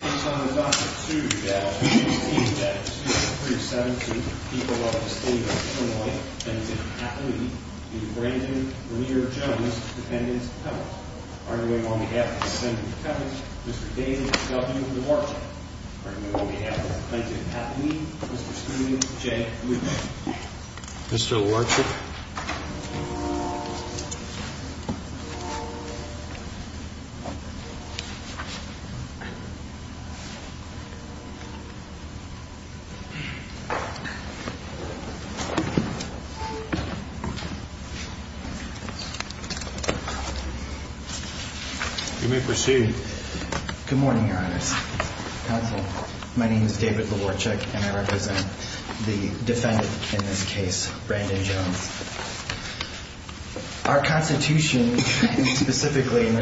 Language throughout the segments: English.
It's on the docket, too, that on June 18th, 1973, 17th, the people of the state of Illinois, Plainton, Papua New Georgia, is Brandon Lear Jones, defendant of Pebbles. I remain on behalf of the defendant of Pebbles, Mr. David W. Warchuk. I remain on behalf of the plaintiff of Papua New Georgia, Mr. Steven J. Lewis. Mr. Warchuk. You may proceed. Good morning, Your Honor. Counsel, my name is David Warchuk and I represent the defendant in this case, Brandon Jones. Our Constitution, specifically in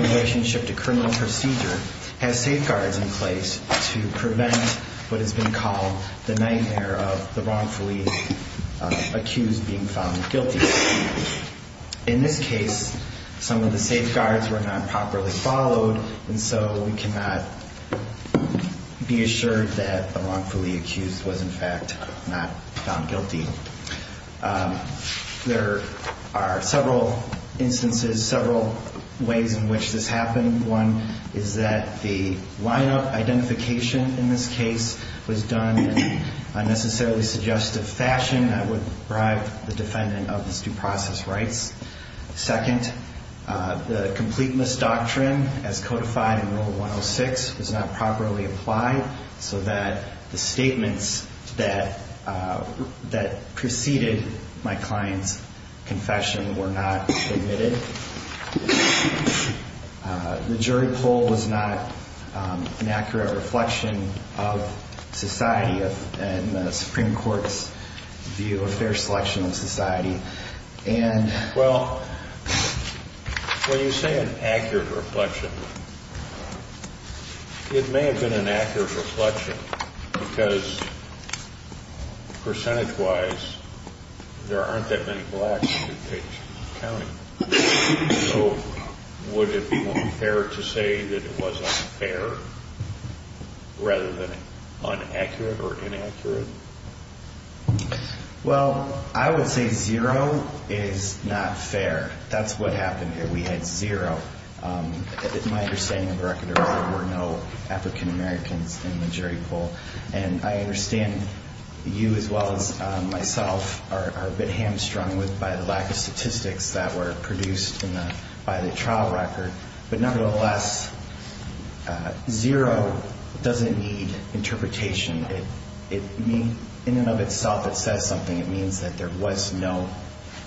relationship to criminal procedure, has safeguards in place to prevent what has been called the nightmare of the wrongfully accused being found guilty. In this case, some of the safeguards were not properly followed, and so we cannot be assured that the wrongfully accused was in fact not found guilty. There are several instances, several ways in which this happened. One is that the lineup identification in this case was done in an unnecessarily suggestive fashion that would bribe the defendant of his due process rights. Second, the complete misdoctrine as codified in Rule 106 was not properly applied so that the statements that preceded my client's confession were not omitted. The jury poll was not an accurate reflection of society and the Supreme Court's view of fair selection of society. Well, when you say an accurate reflection, it may have been an accurate reflection because, percentage-wise, there aren't that many blacks in this county. So would it be more fair to say that it was unfair rather than inaccurate or inaccurate? Well, I would say zero is not fair. That's what happened here. We had zero. My understanding of the record is there were no African Americans in the jury poll. And I understand you as well as myself are a bit hamstrung by the lack of statistics that were produced by the trial record. But nevertheless, zero doesn't need interpretation. In and of itself, it says something. It means that there was no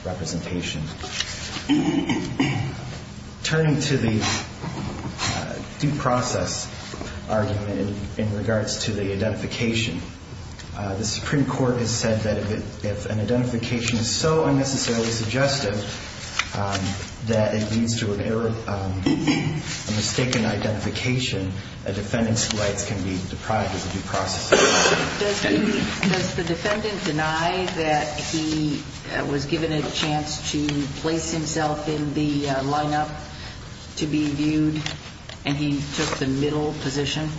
representation. Turning to the due process argument in regards to the identification, the Supreme Court has said that if an identification is so unnecessarily suggestive that it leads to a mistaken identification. A defendant's rights can be deprived of due process. Does the defendant deny that he was given a chance to place himself in the lineup to be viewed and he took the middle position?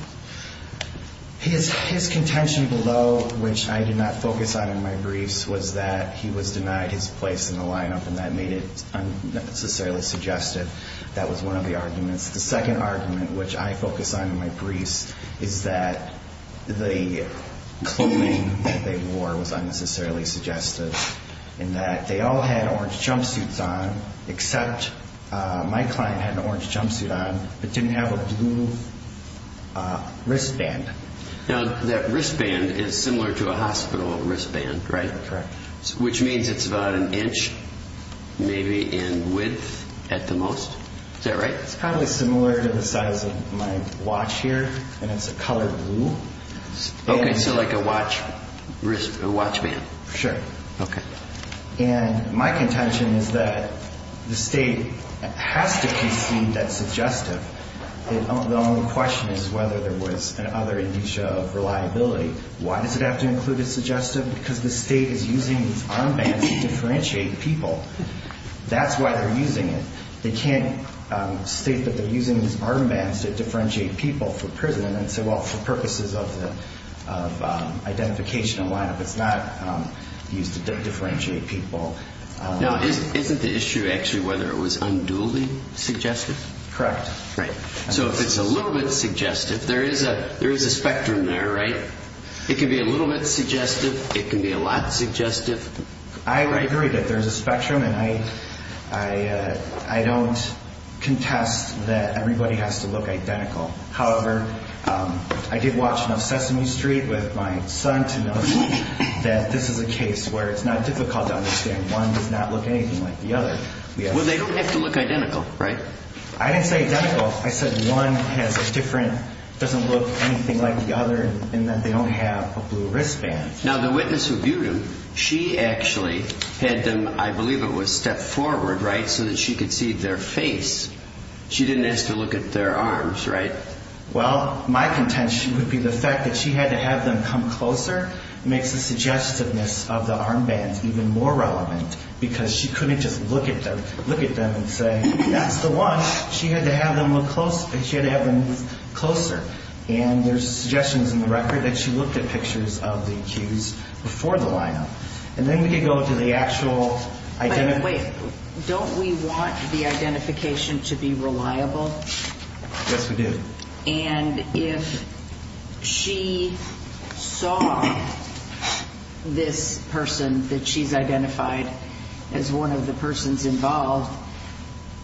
His contention below, which I did not focus on in my briefs, was that he was denied his place in the lineup and that made it unnecessarily suggestive. That was one of the arguments. The second argument, which I focus on in my briefs, is that the clothing that they wore was unnecessarily suggestive in that they all had orange jumpsuits on except my client had an orange jumpsuit on but didn't have a blue wristband. Now, that wristband is similar to a hospital wristband, right? Correct. Which means it's about an inch maybe in width at the most. Is that right? It's probably similar to the size of my watch here and it's a colored blue. Okay, so like a watch band. Sure. Okay. And my contention is that the State has to concede that's suggestive. The only question is whether there was an other indicia of reliability. Why does it have to include a suggestive? Because the State is using these armbands to differentiate people. That's why they're using it. They can't state that they're using these armbands to differentiate people for prison and say, well, for purposes of identification and lineup, it's not used to differentiate people. Now, isn't the issue actually whether it was unduly suggestive? Correct. Right. So if it's a little bit suggestive, there is a spectrum there, right? It can be a little bit suggestive. It can be a lot suggestive. I agree that there's a spectrum and I don't contest that everybody has to look identical. However, I did watch enough Sesame Street with my son to know that this is a case where it's not difficult to understand. One does not look anything like the other. Well, they don't have to look identical, right? I didn't say identical. I said one has a different, doesn't look anything like the other in that they don't have a blue wristband. Now, the witness who viewed them, she actually had them, I believe it was stepped forward, right, so that she could see their face. She didn't ask to look at their arms, right? Well, my contention would be the fact that she had to have them come closer makes the suggestiveness of the armbands even more relevant because she couldn't just look at them and say, that's the one. She had to have them look closer. She had to have them move closer. And there's suggestions in the record that she looked at pictures of the accused before the lineup. And then we could go to the actual identification. Wait, don't we want the identification to be reliable? Yes, we do. And if she saw this person that she's identified as one of the persons involved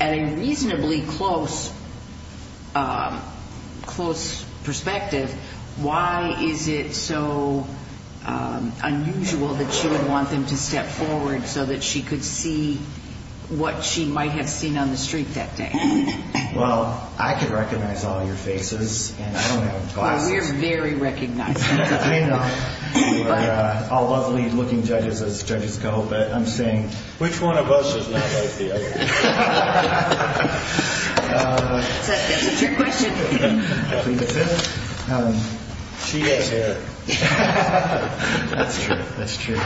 at a reasonably close perspective, why is it so unusual that she would want them to step forward so that she could see what she might have seen on the street that day? Well, I could recognize all your faces, and I don't have glasses. Well, we're very recognizable. I know. We're all lovely looking judges as judges go, but I'm saying, which one of us does not like the other? That's a trick question. She doesn't. That's true. That's true.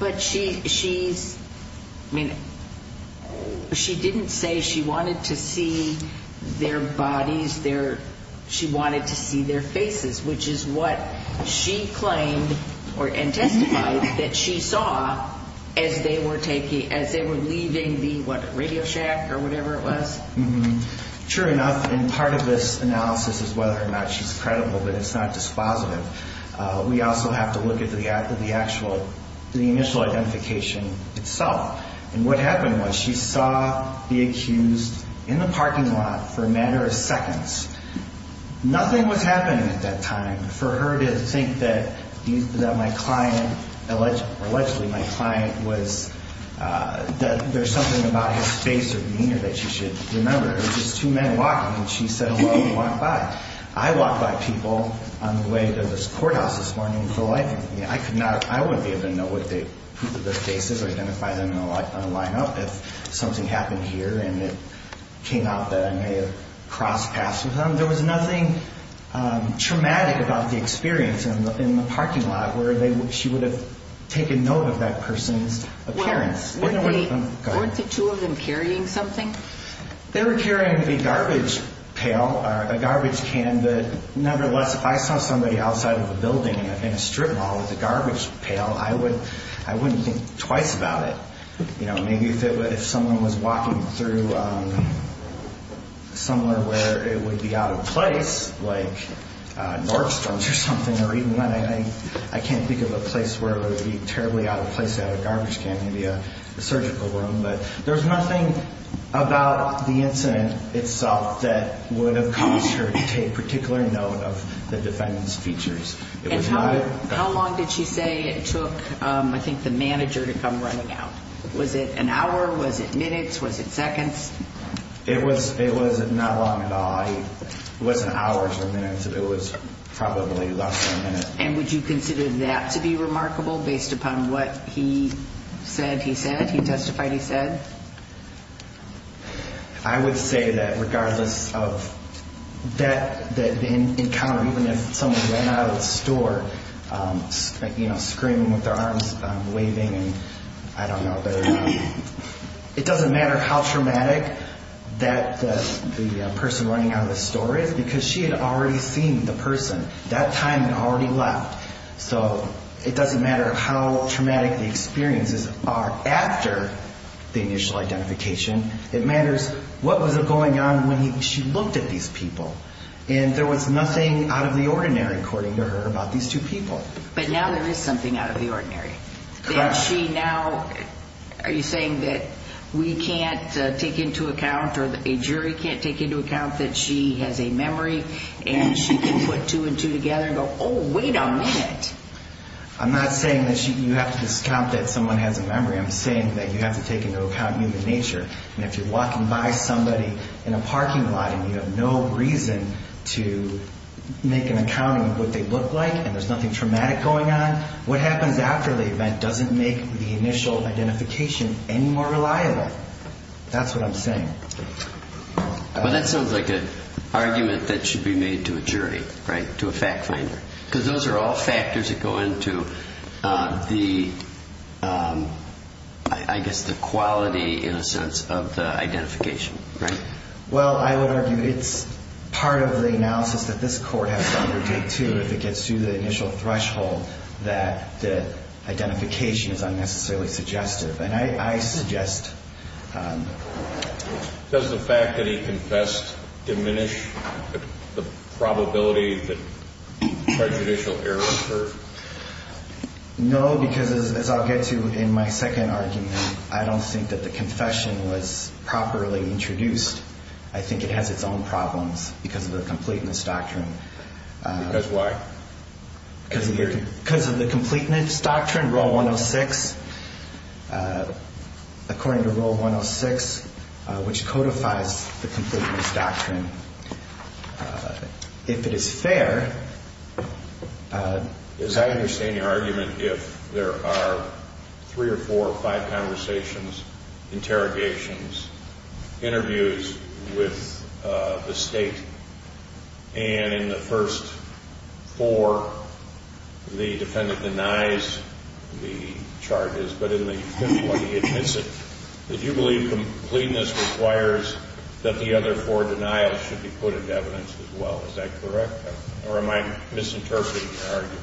But she didn't say she wanted to see their bodies. She wanted to see their faces, which is what she claimed and testified that she saw as they were leaving the, what, Radio Shack or whatever it was? True enough, and part of this analysis is whether or not she's credible, but it's not just positive. We also have to look at the actual, the initial identification itself. And what happened was she saw the accused in the parking lot for a matter of seconds. Nothing was happening at that time for her to think that my client, allegedly my client was, that there's something about his face or demeanor that she should remember. It was just two men walking, and she said, well, he walked by. I walked by people on the way to this courthouse this morning with a light. I could not, I wouldn't be able to know what the faces or identify them in a lineup if something happened here and it came out that I may have crossed paths with them. There was nothing traumatic about the experience in the parking lot where she would have taken note of that person's appearance. Weren't the two of them carrying something? They were carrying a garbage pail or a garbage can. Nevertheless, if I saw somebody outside of the building in a strip mall with a garbage pail, I wouldn't think twice about it. Maybe if someone was walking through somewhere where it would be out of place, like Nordstrom's or something, or even when I can't think of a place where it would be terribly out of place to have a garbage can, maybe a surgical room. But there's nothing about the incident itself that would have caused her to take particular note of the defendant's features. And how long did she say it took, I think, the manager to come running out? Was it an hour? Was it minutes? Was it seconds? It was not long at all. It wasn't hours or minutes. It was probably less than a minute. And would you consider that to be remarkable based upon what he said he said, he testified he said? I would say that regardless of that encounter, even if someone ran out of the store, you know, screaming with their arms waving and I don't know. It doesn't matter how traumatic that the person running out of the store is because she had already seen the person. That time had already left. So it doesn't matter how traumatic the experiences are after the initial identification. It matters what was going on when she looked at these people. And there was nothing out of the ordinary, according to her, about these two people. But now there is something out of the ordinary. Correct. Are you saying that we can't take into account or a jury can't take into account that she has a memory and she can put two and two together and go, oh, wait a minute? I'm not saying that you have to discount that someone has a memory. I'm saying that you have to take into account human nature. And if you're walking by somebody in a parking lot and you have no reason to make an account of what they look like and there's nothing traumatic going on, what happens after the event doesn't make the initial identification any more reliable. That's what I'm saying. But that sounds like an argument that should be made to a jury, right, to a fact finder. Because those are all factors that go into the, I guess, the quality, in a sense, of the identification, right? Well, I would argue it's part of the analysis that this Court has to undertake, too. If it gets to the initial threshold that the identification is unnecessarily suggestive. And I suggest... Does the fact that he confessed diminish the probability that prejudicial error occurred? No, because as I'll get to in my second argument, I don't think that the confession was properly introduced. I think it has its own problems because of the completeness doctrine. Because why? Because of the completeness doctrine, Rule 106, according to Rule 106, which codifies the completeness doctrine. If it is fair... As I understand your argument, if there are three or four or five conversations, interrogations, interviews with the State, and in the first four the defendant denies the charges, but in the fifth one he admits it, do you believe completeness requires that the other four denials should be put into evidence as well? Is that correct? Or am I misinterpreting your argument?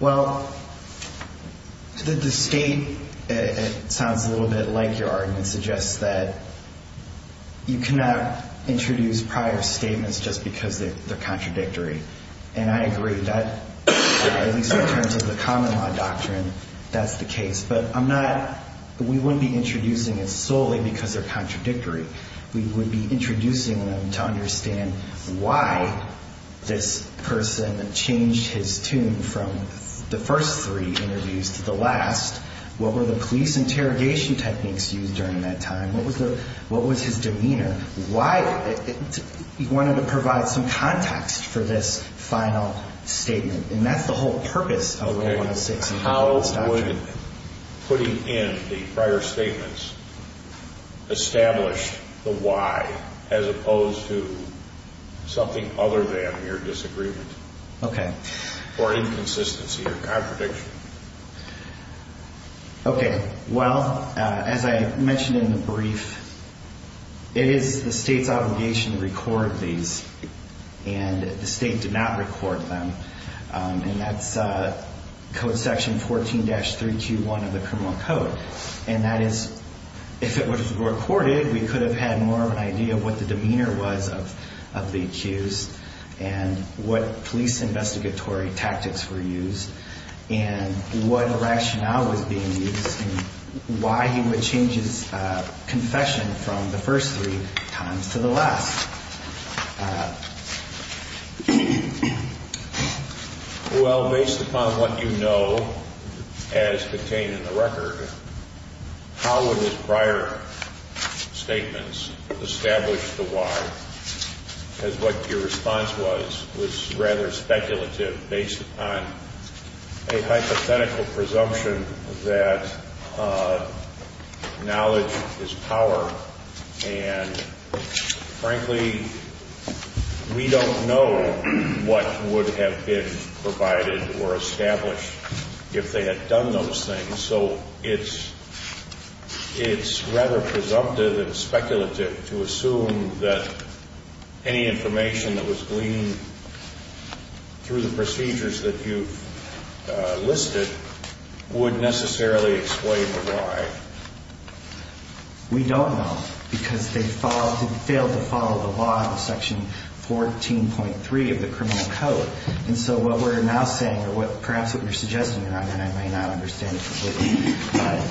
Well, the State, it sounds a little bit like your argument, suggests that you cannot introduce prior statements just because they're contradictory. And I agree that, at least in terms of the common law doctrine, that's the case. But we wouldn't be introducing it solely because they're contradictory. We would be introducing them to understand why this person changed his tune from the first three interviews to the last. What were the police interrogation techniques used during that time? What was his demeanor? He wanted to provide some context for this final statement. And that's the whole purpose of Rule 106 and completeness doctrine. I'm interested in putting in the prior statements, establish the why, as opposed to something other than mere disagreement. Okay. Or inconsistency or contradiction. Okay. Well, as I mentioned in the brief, it is the State's obligation to record these. And the State did not record them. And that's Code Section 14-3Q1 of the Criminal Code. And that is, if it was recorded, we could have had more of an idea of what the demeanor was of the accused and what police investigatory tactics were used. And what rationale was being used and why he would change his confession from the first three times to the last. Well, based upon what you know as contained in the record, how would his prior statements establish the why? Because what your response was, was rather speculative based upon a hypothetical presumption that knowledge is power. And, frankly, we don't know what would have been provided or established if they had done those things. So it's rather presumptive and speculative to assume that any information that was gleaned through the procedures that you've listed would necessarily explain the why. We don't know because they failed to follow the law of Section 14.3 of the Criminal Code. And so what we're now saying, or perhaps what you're suggesting, Your Honor, and I may not understand it completely, but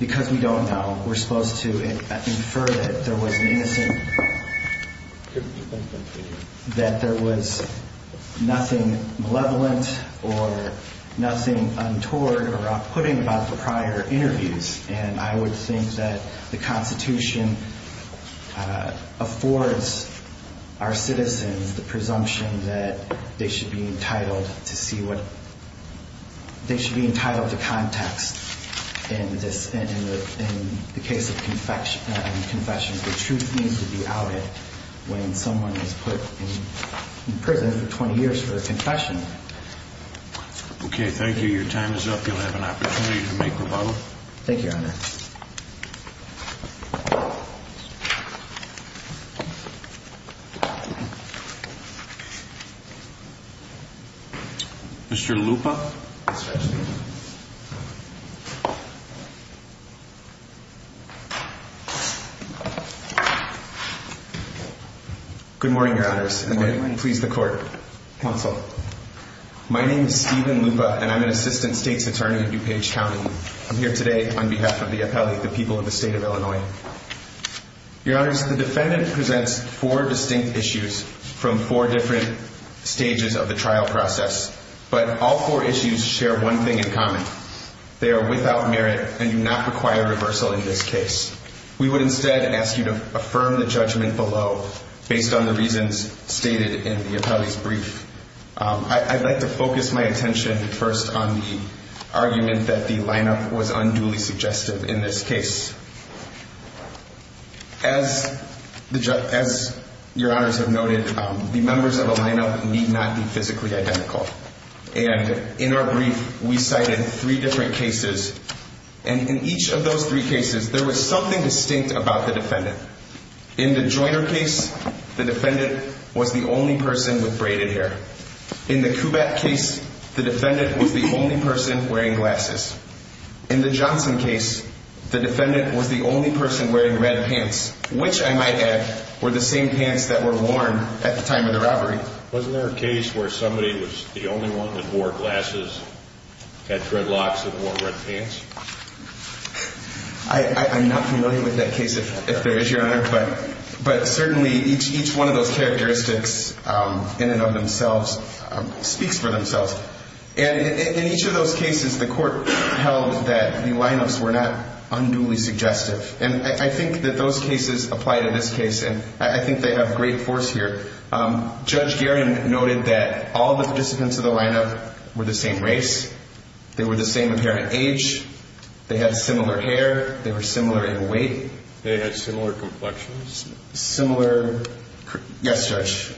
because we don't know, we're supposed to infer that there was an innocent, that there was nothing malevolent or nothing untoward or outputting about the prior interviews. And I would think that the Constitution affords our citizens the presumption that they should be entitled to see what – they should be entitled to context in the case of confessions. The truth needs to be outed when someone is put in prison for 20 years for a confession. Okay. Thank you. Your time is up. You'll have an opportunity to make rebuttal. Thank you, Your Honor. Mr. Lupa? Good morning, Your Honors. Good morning. My name is Stephen Lupa, and I'm an Assistant State's Attorney in DuPage County. I'm here today on behalf of the appellee, the people of the State of Illinois. Your Honors, the defendant presents four distinct issues from four different stages of the trial process, but all four issues share one thing in common. They are without merit and do not require reversal in this case. We would instead ask you to affirm the judgment below based on the reasons stated in the appellee's brief. I'd like to focus my attention first on the argument that the lineup was unduly suggestive in this case. As Your Honors have noted, the members of the lineup need not be physically identical. And in our brief, we cited three different cases, and in each of those three cases, there was something distinct about the defendant. In the Joyner case, the defendant was the only person with braided hair. In the Kubat case, the defendant was the only person wearing glasses. In the Johnson case, the defendant was the only person wearing red pants, which, I might add, were the same pants that were worn at the time of the robbery. Wasn't there a case where somebody was the only one that wore glasses, had dreadlocks, and wore red pants? I'm not familiar with that case, if there is, Your Honor. But certainly, each one of those characteristics in and of themselves speaks for themselves. And in each of those cases, the court held that the lineups were not unduly suggestive. And I think that those cases apply to this case, and I think they have great force here. Judge Guerin noted that all of the participants of the lineup were the same race. They were the same apparent age. They had similar hair. They were similar in weight. They had similar complexions. Similar, yes, Judge,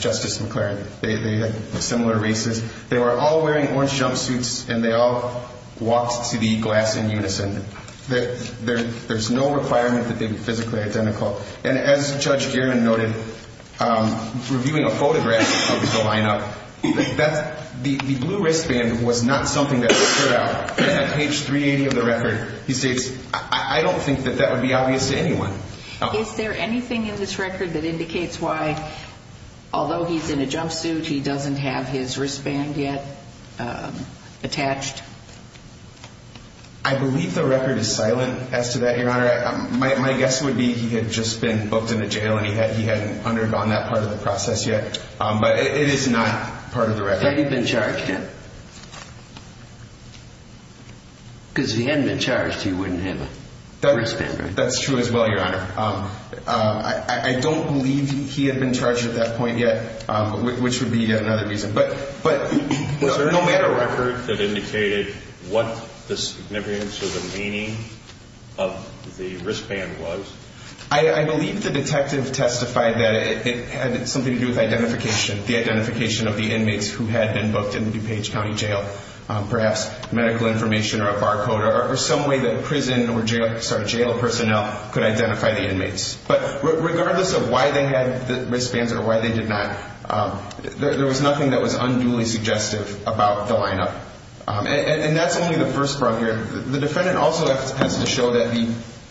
Justice McLaren, they had similar races. They were all wearing orange jumpsuits, and they all walked to the glass in unison. There's no requirement that they be physically identical. And as Judge Guerin noted, reviewing a photograph of the lineup, the blue wristband was not something that stood out. On page 380 of the record, he states, I don't think that that would be obvious to anyone. Is there anything in this record that indicates why, although he's in a jumpsuit, he doesn't have his wristband yet attached? I believe the record is silent as to that, Your Honor. My guess would be he had just been booked into jail, and he hadn't undergone that part of the process yet. But it is not part of the record. Had he been charged yet? Because if he hadn't been charged, he wouldn't have a wristband, right? That's true as well, Your Honor. I don't believe he had been charged at that point yet, which would be another reason. Was there any record that indicated what the significance or the meaning of the wristband was? I believe the detective testified that it had something to do with identification, the identification of the inmates who had been booked in DuPage County Jail, perhaps medical information or a barcode or some way that prison or jail personnel could identify the inmates. But regardless of why they had the wristbands or why they did not, there was nothing that was unduly suggestive about the lineup. And that's only the first part here. The defendant also has to show that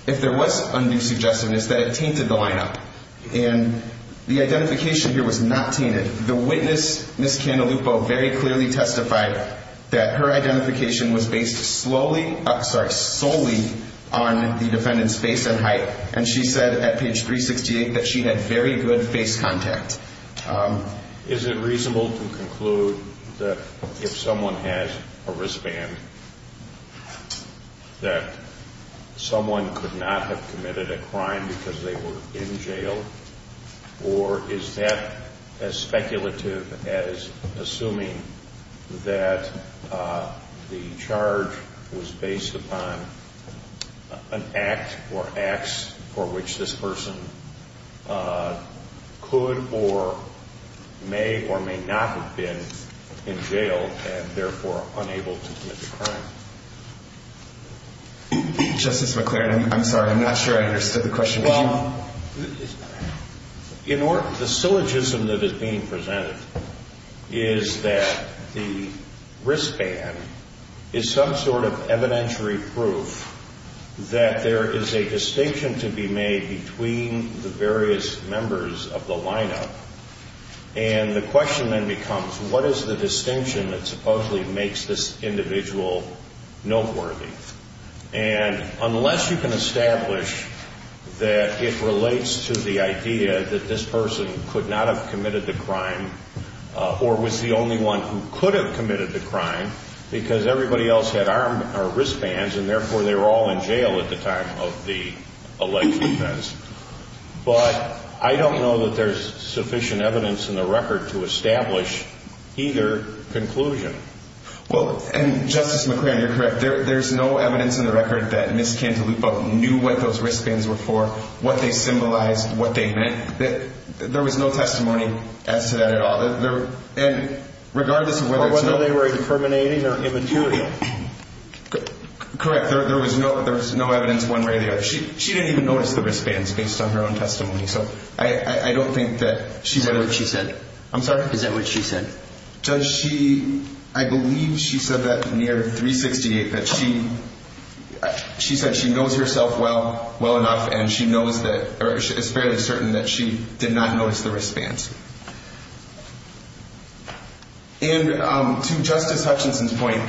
if there was undue suggestiveness, that it tainted the lineup. And the identification here was not tainted. The witness, Ms. Candelupo, very clearly testified that her identification was based solely on the defendant's face and height. And she said at page 368 that she had very good face contact. Is it reasonable to conclude that if someone has a wristband, that someone could not have committed a crime because they were in jail? Or is that as speculative as assuming that the charge was based upon an act or acts for which this person could or may or may not have been in jail and therefore unable to commit the crime? Justice McClaren, I'm sorry. I'm not sure I understood the question. Well, the syllogism that is being presented is that the wristband is some sort of evidentiary proof that there is a distinction to be made between the various members of the lineup. And the question then becomes, what is the distinction that supposedly makes this individual noteworthy? And unless you can establish that it relates to the idea that this person could not have committed the crime or was the only one who could have committed the crime because everybody else had wristbands and therefore they were all in jail at the time of the alleged offense. But I don't know that there's sufficient evidence in the record to establish either conclusion. Well, and Justice McClaren, you're correct. There's no evidence in the record that Ms. Cantaloupo knew what those wristbands were for, what they symbolized, what they meant. There was no testimony as to that at all. And regardless of whether it's not... Or whether they were incriminating or immaterial. Correct. There was no evidence one way or the other. She didn't even notice the wristbands based on her own testimony. So I don't think that she... Is that what she said? I'm sorry? Is that what she said? Does she... I believe she said that near 368, that she... She said she knows herself well enough and she knows that... Or is fairly certain that she did not notice the wristbands. And to Justice Hutchinson's point,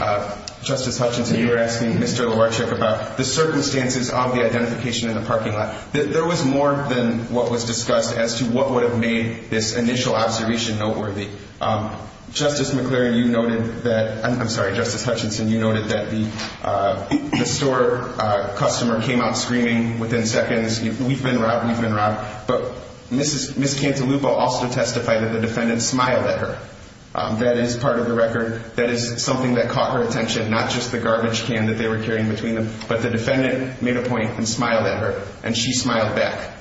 Justice Hutchinson, you were asking Mr. Lowarchuk about the circumstances of the identification in the parking lot. There was more than what was discussed as to what would have made this initial observation noteworthy. Justice McClaren, you noted that... I'm sorry, Justice Hutchinson, you noted that the store customer came out screaming within seconds, we've been robbed, we've been robbed. But Ms. Cantalupo also testified that the defendant smiled at her. That is part of the record. That is something that caught her attention, not just the garbage can that they were carrying between them. But the defendant made a point and smiled at her, and she smiled back.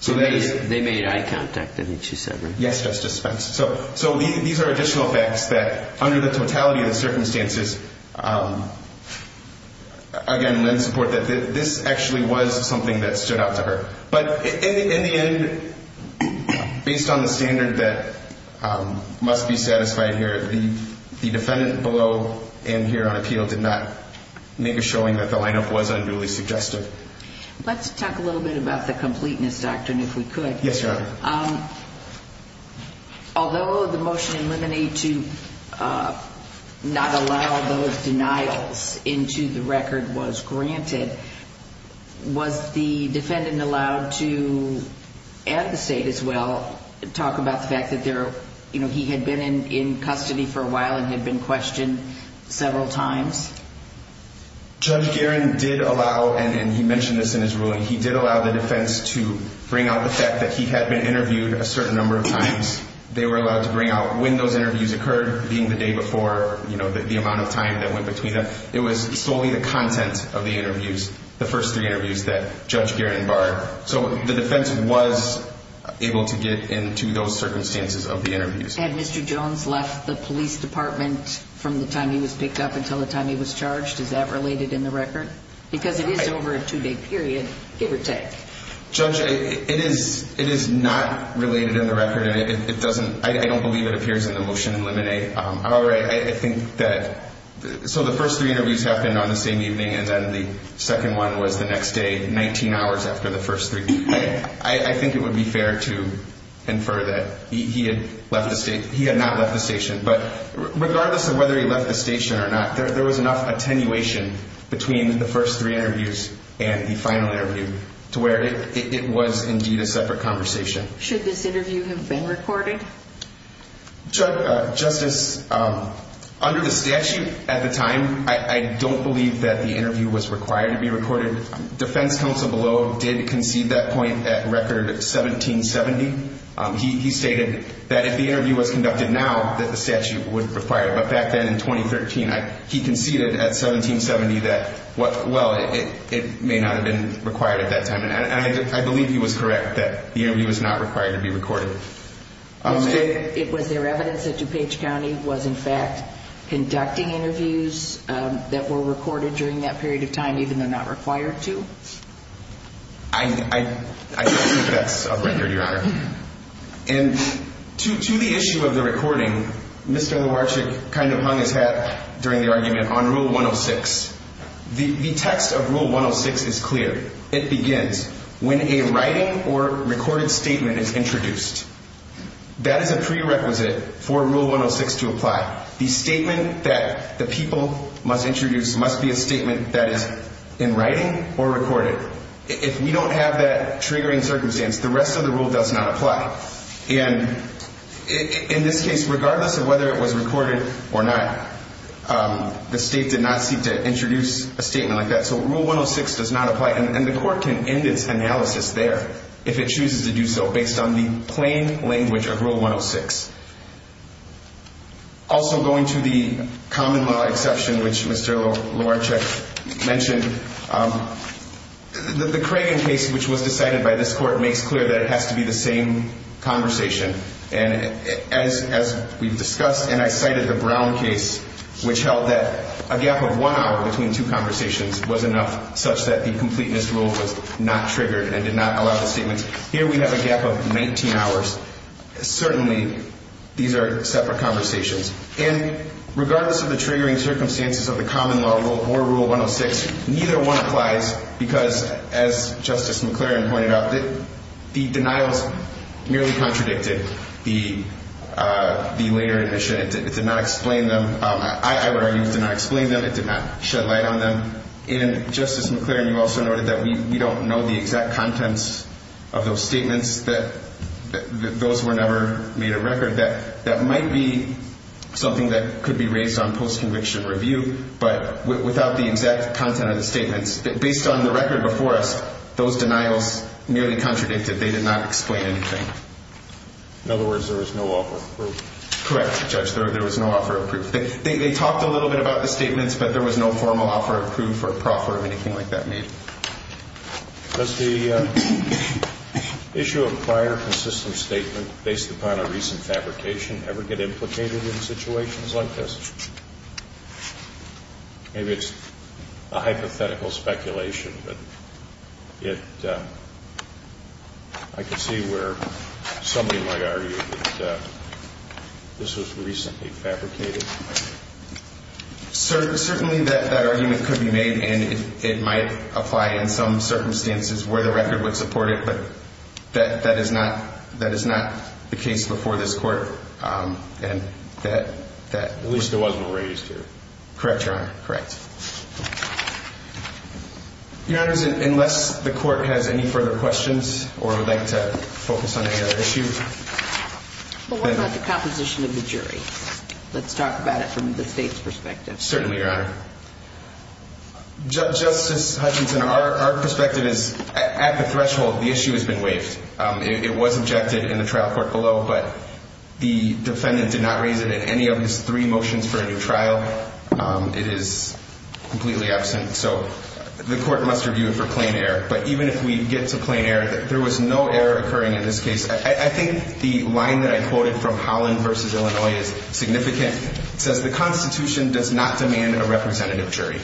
So that is... They made eye contact, didn't she, sir? Yes, Justice Spence. So these are additional facts that, under the totality of the circumstances, again, lend support that this actually was something that stood out to her. But in the end, based on the standard that must be satisfied here, the defendant below and here on appeal did not make a showing that the lineup was unduly suggestive. Let's talk a little bit about the completeness doctrine, if we could. Yes, Your Honor. Although the motion in limine to not allow those denials into the record was granted, was the defendant allowed to, at the state as well, talk about the fact that he had been in custody for a while and had been questioned several times? Judge Guerin did allow, and he mentioned this in his ruling, he did allow the defense to bring out the fact that he had been interviewed a certain number of times. They were allowed to bring out when those interviews occurred, being the day before, you know, the amount of time that went between them. It was solely the content of the interviews, the first three interviews that Judge Guerin barred. So the defense was able to get into those circumstances of the interviews. Had Mr. Jones left the police department from the time he was picked up until the time he was charged? Is that related in the record? Because it is over a two-day period, give or take. Judge, it is not related in the record, and it doesn't, I don't believe it appears in the motion in limine. However, I think that, so the first three interviews happened on the same evening, and then the second one was the next day, 19 hours after the first three. I think it would be fair to infer that he had left the, he had not left the station. But regardless of whether he left the station or not, there was enough attenuation between the first three interviews and the final interview to where it was indeed a separate conversation. Should this interview have been recorded? Justice, under the statute at the time, I don't believe that the interview was required to be recorded. Defense counsel below did concede that point at record 1770. He stated that if the interview was conducted now, that the statute would require it. But back then in 2013, he conceded at 1770 that, well, it may not have been required at that time. And I believe he was correct that the interview was not required to be recorded. It was there evidence that DuPage County was in fact conducting interviews that were recorded during that period of time, even though not required to? I don't think that's a record, Your Honor. And to the issue of the recording, Mr. Lowarchik kind of hung his hat during the argument on Rule 106. The text of Rule 106 is clear. It begins when a writing or recorded statement is introduced. That is a prerequisite for Rule 106 to apply. The statement that the people must introduce must be a statement that is in writing or recorded. If we don't have that triggering circumstance, the rest of the rule does not apply. And in this case, regardless of whether it was recorded or not, the state did not seek to introduce a statement like that. So Rule 106 does not apply. And the court can end its analysis there if it chooses to do so based on the plain language of Rule 106. Also going to the common law exception, which Mr. Lowarchik mentioned, the Cragen case, which was decided by this court, makes clear that it has to be the same conversation. And as we've discussed and I cited the Brown case, which held that a gap of one hour between two conversations was enough such that the completeness rule was not triggered and did not allow the statements. Here we have a gap of 19 hours. Certainly, these are separate conversations. And regardless of the triggering circumstances of the common law or Rule 106, neither one applies because, as Justice McClaren pointed out, the denials merely contradicted the later admission. It did not explain them. I would argue it did not explain them. It did not shed light on them. And Justice McClaren, you also noted that we don't know the exact contents of those statements, that those were never made a record. That might be something that could be raised on post-conviction review, but without the exact content of the statements, based on the record before us, those denials merely contradicted. They did not explain anything. In other words, there was no offer of proof. Correct, Judge. There was no offer of proof. They talked a little bit about the statements, but there was no formal offer of proof or proffer of anything like that made. Does the issue of prior consistent statement based upon a recent fabrication ever get implicated in situations like this? Maybe it's a hypothetical speculation, but I can see where somebody might argue that this was recently fabricated. Certainly that argument could be made, and it might apply in some circumstances where the record would support it, but that is not the case before this Court. At least it wasn't raised here. Correct, Your Honor. Correct. Your Honors, unless the Court has any further questions or would like to focus on any other issue. What about the composition of the jury? Let's talk about it from the State's perspective. Certainly, Your Honor. Justice Hutchinson, our perspective is at the threshold, the issue has been waived. It was objected in the trial court below, but the defendant did not raise it in any of his three motions for a new trial. It is completely absent, so the Court must review it for plain error. But even if we get to plain error, there was no error occurring in this case. I think the line that I quoted from Holland v. Illinois is significant. It says the Constitution does not demand a representative jury.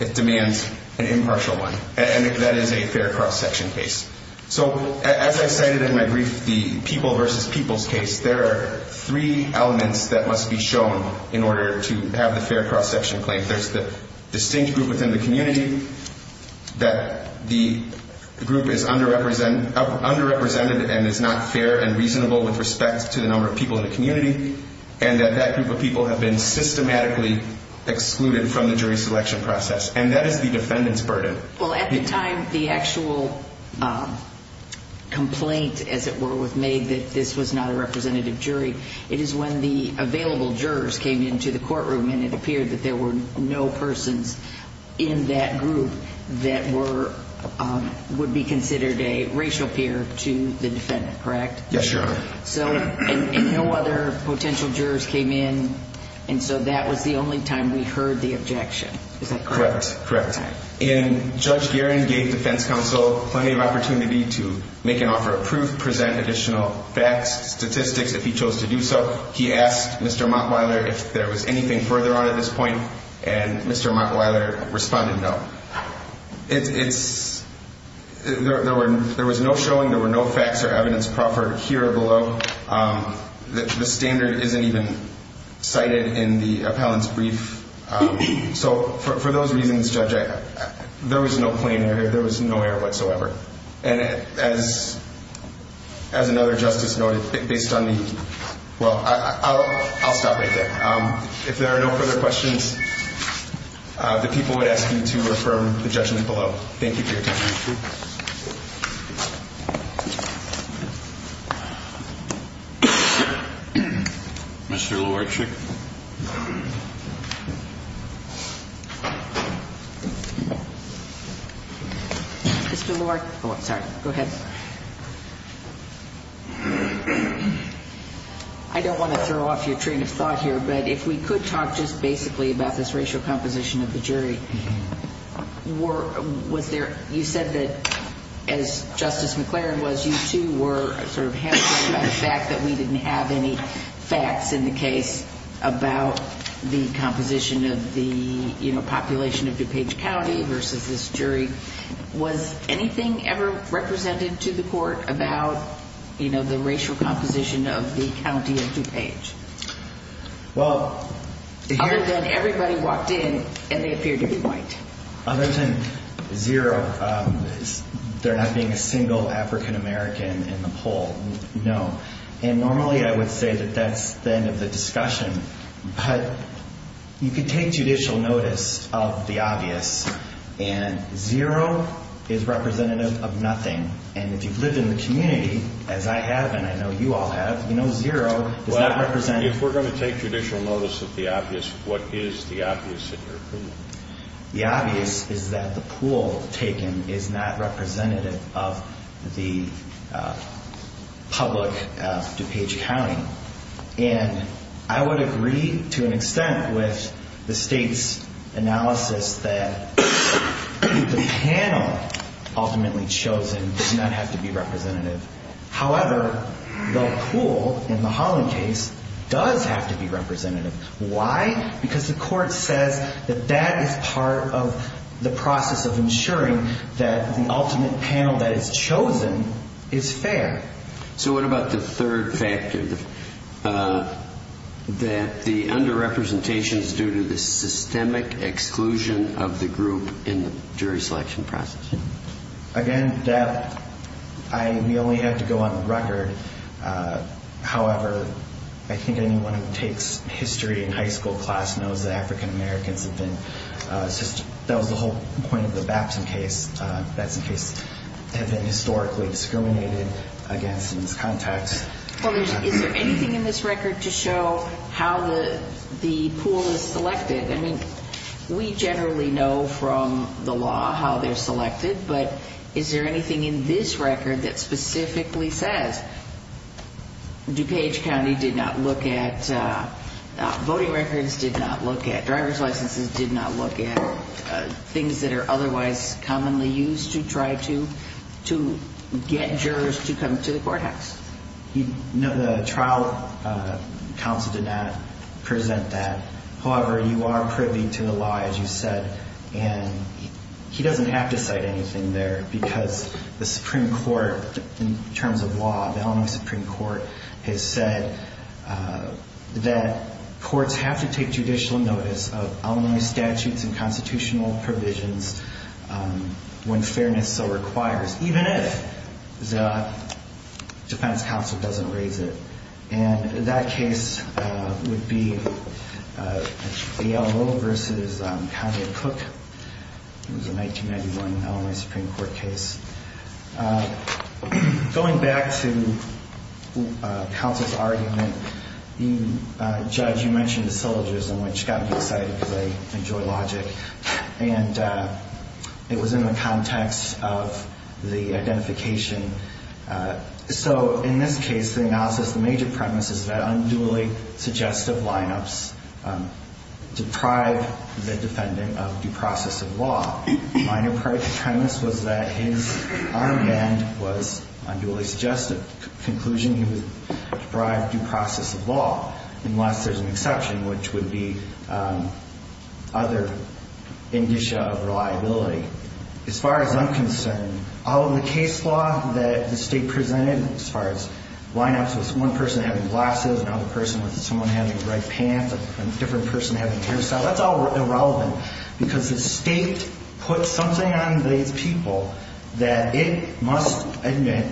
It demands an impartial one, and that is a fair cross-section case. So as I cited in my brief, the people v. people's case, there are three elements that must be shown in order to have the fair cross-section claim. There's the distinct group within the community, that the group is underrepresented and is not fair and reasonable with respect to the number of people in the community, and that that group of people have been systematically excluded from the jury selection process, and that is the defendant's burden. Well, at the time the actual complaint, as it were, was made that this was not a representative jury, it is when the available jurors came into the courtroom and it appeared that there were no persons in that group that would be considered a racial peer to the defendant, correct? Yes, Your Honor. And no other potential jurors came in, and so that was the only time we heard the objection. Is that correct? Correct. And Judge Guerin gave defense counsel plenty of opportunity to make an offer of proof, present additional facts, statistics, if he chose to do so. He asked Mr. Montwiler if there was anything further on at this point, and Mr. Montwiler responded no. It's – there was no showing, there were no facts or evidence proffered here or below. The standard isn't even cited in the appellant's brief. So for those reasons, Judge, there was no plain error, there was no error whatsoever. And as another justice noted, based on the – well, I'll stop right there. If there are no further questions, the people would ask you to refer the judgment below. Thank you for your time. Thank you. Mr. Luarchik. Mr. Luarchik – oh, sorry. Go ahead. I don't want to throw off your train of thought here, but if we could talk just basically about this racial composition of the jury. Was there – you said that, as Justice McClaren was, you too were sort of hesitant about the fact that we didn't have any facts in the case about the composition of the population of DuPage County versus this jury. Was anything ever represented to the court about, you know, the racial composition of the county of DuPage? Well – Other than everybody walked in and they appeared to be white. Other than zero, there not being a single African American in the poll, no. And normally I would say that that's the end of the discussion, but you could take judicial notice of the obvious, and zero is representative of nothing. And if you've lived in the community, as I have and I know you all have, you know zero is not representative – Well, if we're going to take judicial notice of the obvious, what is the obvious in your opinion? The obvious is that the pool taken is not representative of the public of DuPage County. And I would agree to an extent with the state's analysis that the panel ultimately chosen does not have to be representative. However, the pool in the Holland case does have to be representative. Why? Because the court says that that is part of the process of ensuring that the ultimate panel that is chosen is fair. So what about the third factor, that the underrepresentation is due to the systemic exclusion of the group in the jury selection process? Again, that – we only have to go on the record. However, I think anyone who takes history in high school class knows that African Americans have been – Well, is there anything in this record to show how the pool is selected? I mean, we generally know from the law how they're selected, but is there anything in this record that specifically says DuPage County did not look at – voting records did not look at, driver's licenses did not look at, things that are otherwise commonly used to try to get jurors to come to the courthouse? No, the trial counsel did not present that. However, you are privy to the law, as you said, and he doesn't have to cite anything there, because the Supreme Court, in terms of law, the Illinois Supreme Court has said that courts have to take judicial notice of Illinois statutes and constitutional provisions when fairness so requires, even if the defense counsel doesn't raise it. And that case would be the Elmo v. Condit-Cook. It was a 1991 Illinois Supreme Court case. Going back to counsel's argument, Judge, you mentioned the syllogism, which got me excited because I enjoy logic, and it was in the context of the identification. So in this case, the analysis, the major premise is that unduly suggestive lineups deprive the defendant of due process of law. Minor premise was that his arm band was unduly suggestive. Conclusion, he was deprived due process of law, unless there's an exception, which would be other indicia of reliability. As far as I'm concerned, all of the case law that the State presented, as far as lineups with one person having glasses and another person with someone having red pants and a different person having a hairstyle, that's all irrelevant because the State put something on these people that it must admit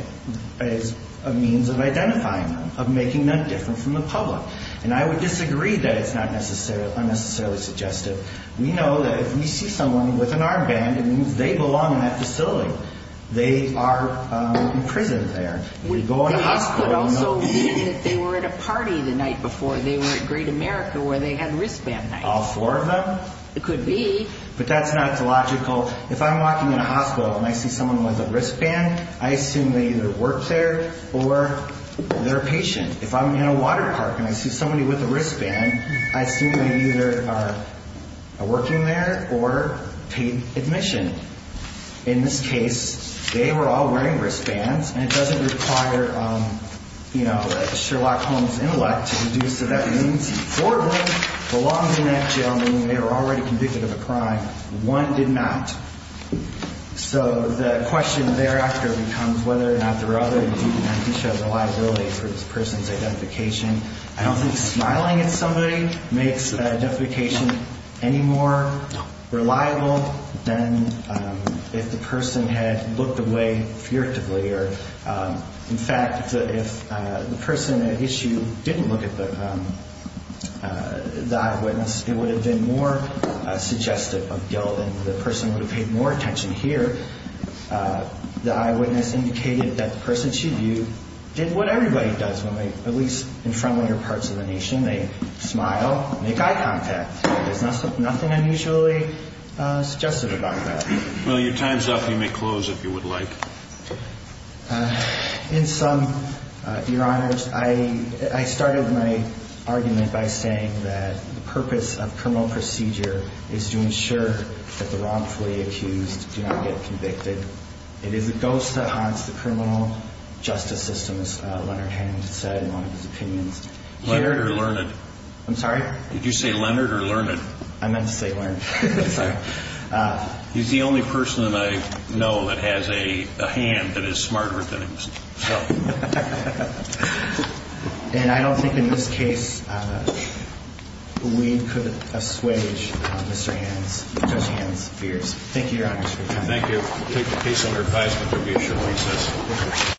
as a means of identifying them, of making them different from the public. And I would disagree that it's not unnecessarily suggestive. We know that if we see someone with an arm band, it means they belong in that facility. They are imprisoned there. They could also mean that they were at a party the night before. They were at Great America where they had wristband nights. All four of them? It could be. But that's not logical. If I'm walking in a hospital and I see someone with a wristband, I assume they either work there or they're a patient. If I'm in a water park and I see somebody with a wristband, I assume they either are working there or paid admission. In this case, they were all wearing wristbands, and it doesn't require Sherlock Holmes' intellect to deduce that that means four of them belong in that jail, meaning they were already convicted of a crime. One did not. So the question thereafter becomes whether or not there are other indications of liability for this person's identification. I don't think smiling at somebody makes identification any more reliable than if the person had looked away furtively. In fact, if the person at issue didn't look at the eyewitness, it would have been more suggestive of guilt, and the person would have paid more attention here. The eyewitness indicated that the person she viewed did what everybody does when they, at least in front-liner parts of the nation, they smile, make eye contact. There's nothing unusually suggestive about that. Well, your time's up. You may close if you would like. In sum, Your Honors, I started my argument by saying that the purpose of criminal procedure is to ensure that the wrongfully accused do not get convicted. It is a ghost that haunts the criminal justice system, as Leonard Hand said in one of his opinions. Leonard or Learned? I'm sorry? Did you say Leonard or Learned? I meant to say Learned. Sorry. He's the only person that I know that has a hand that is smarter than himself. And I don't think in this case we could assuage Mr. Hand's fears. Thank you, Your Honors. Thank you. We'll take the case under advisement for re-assurance.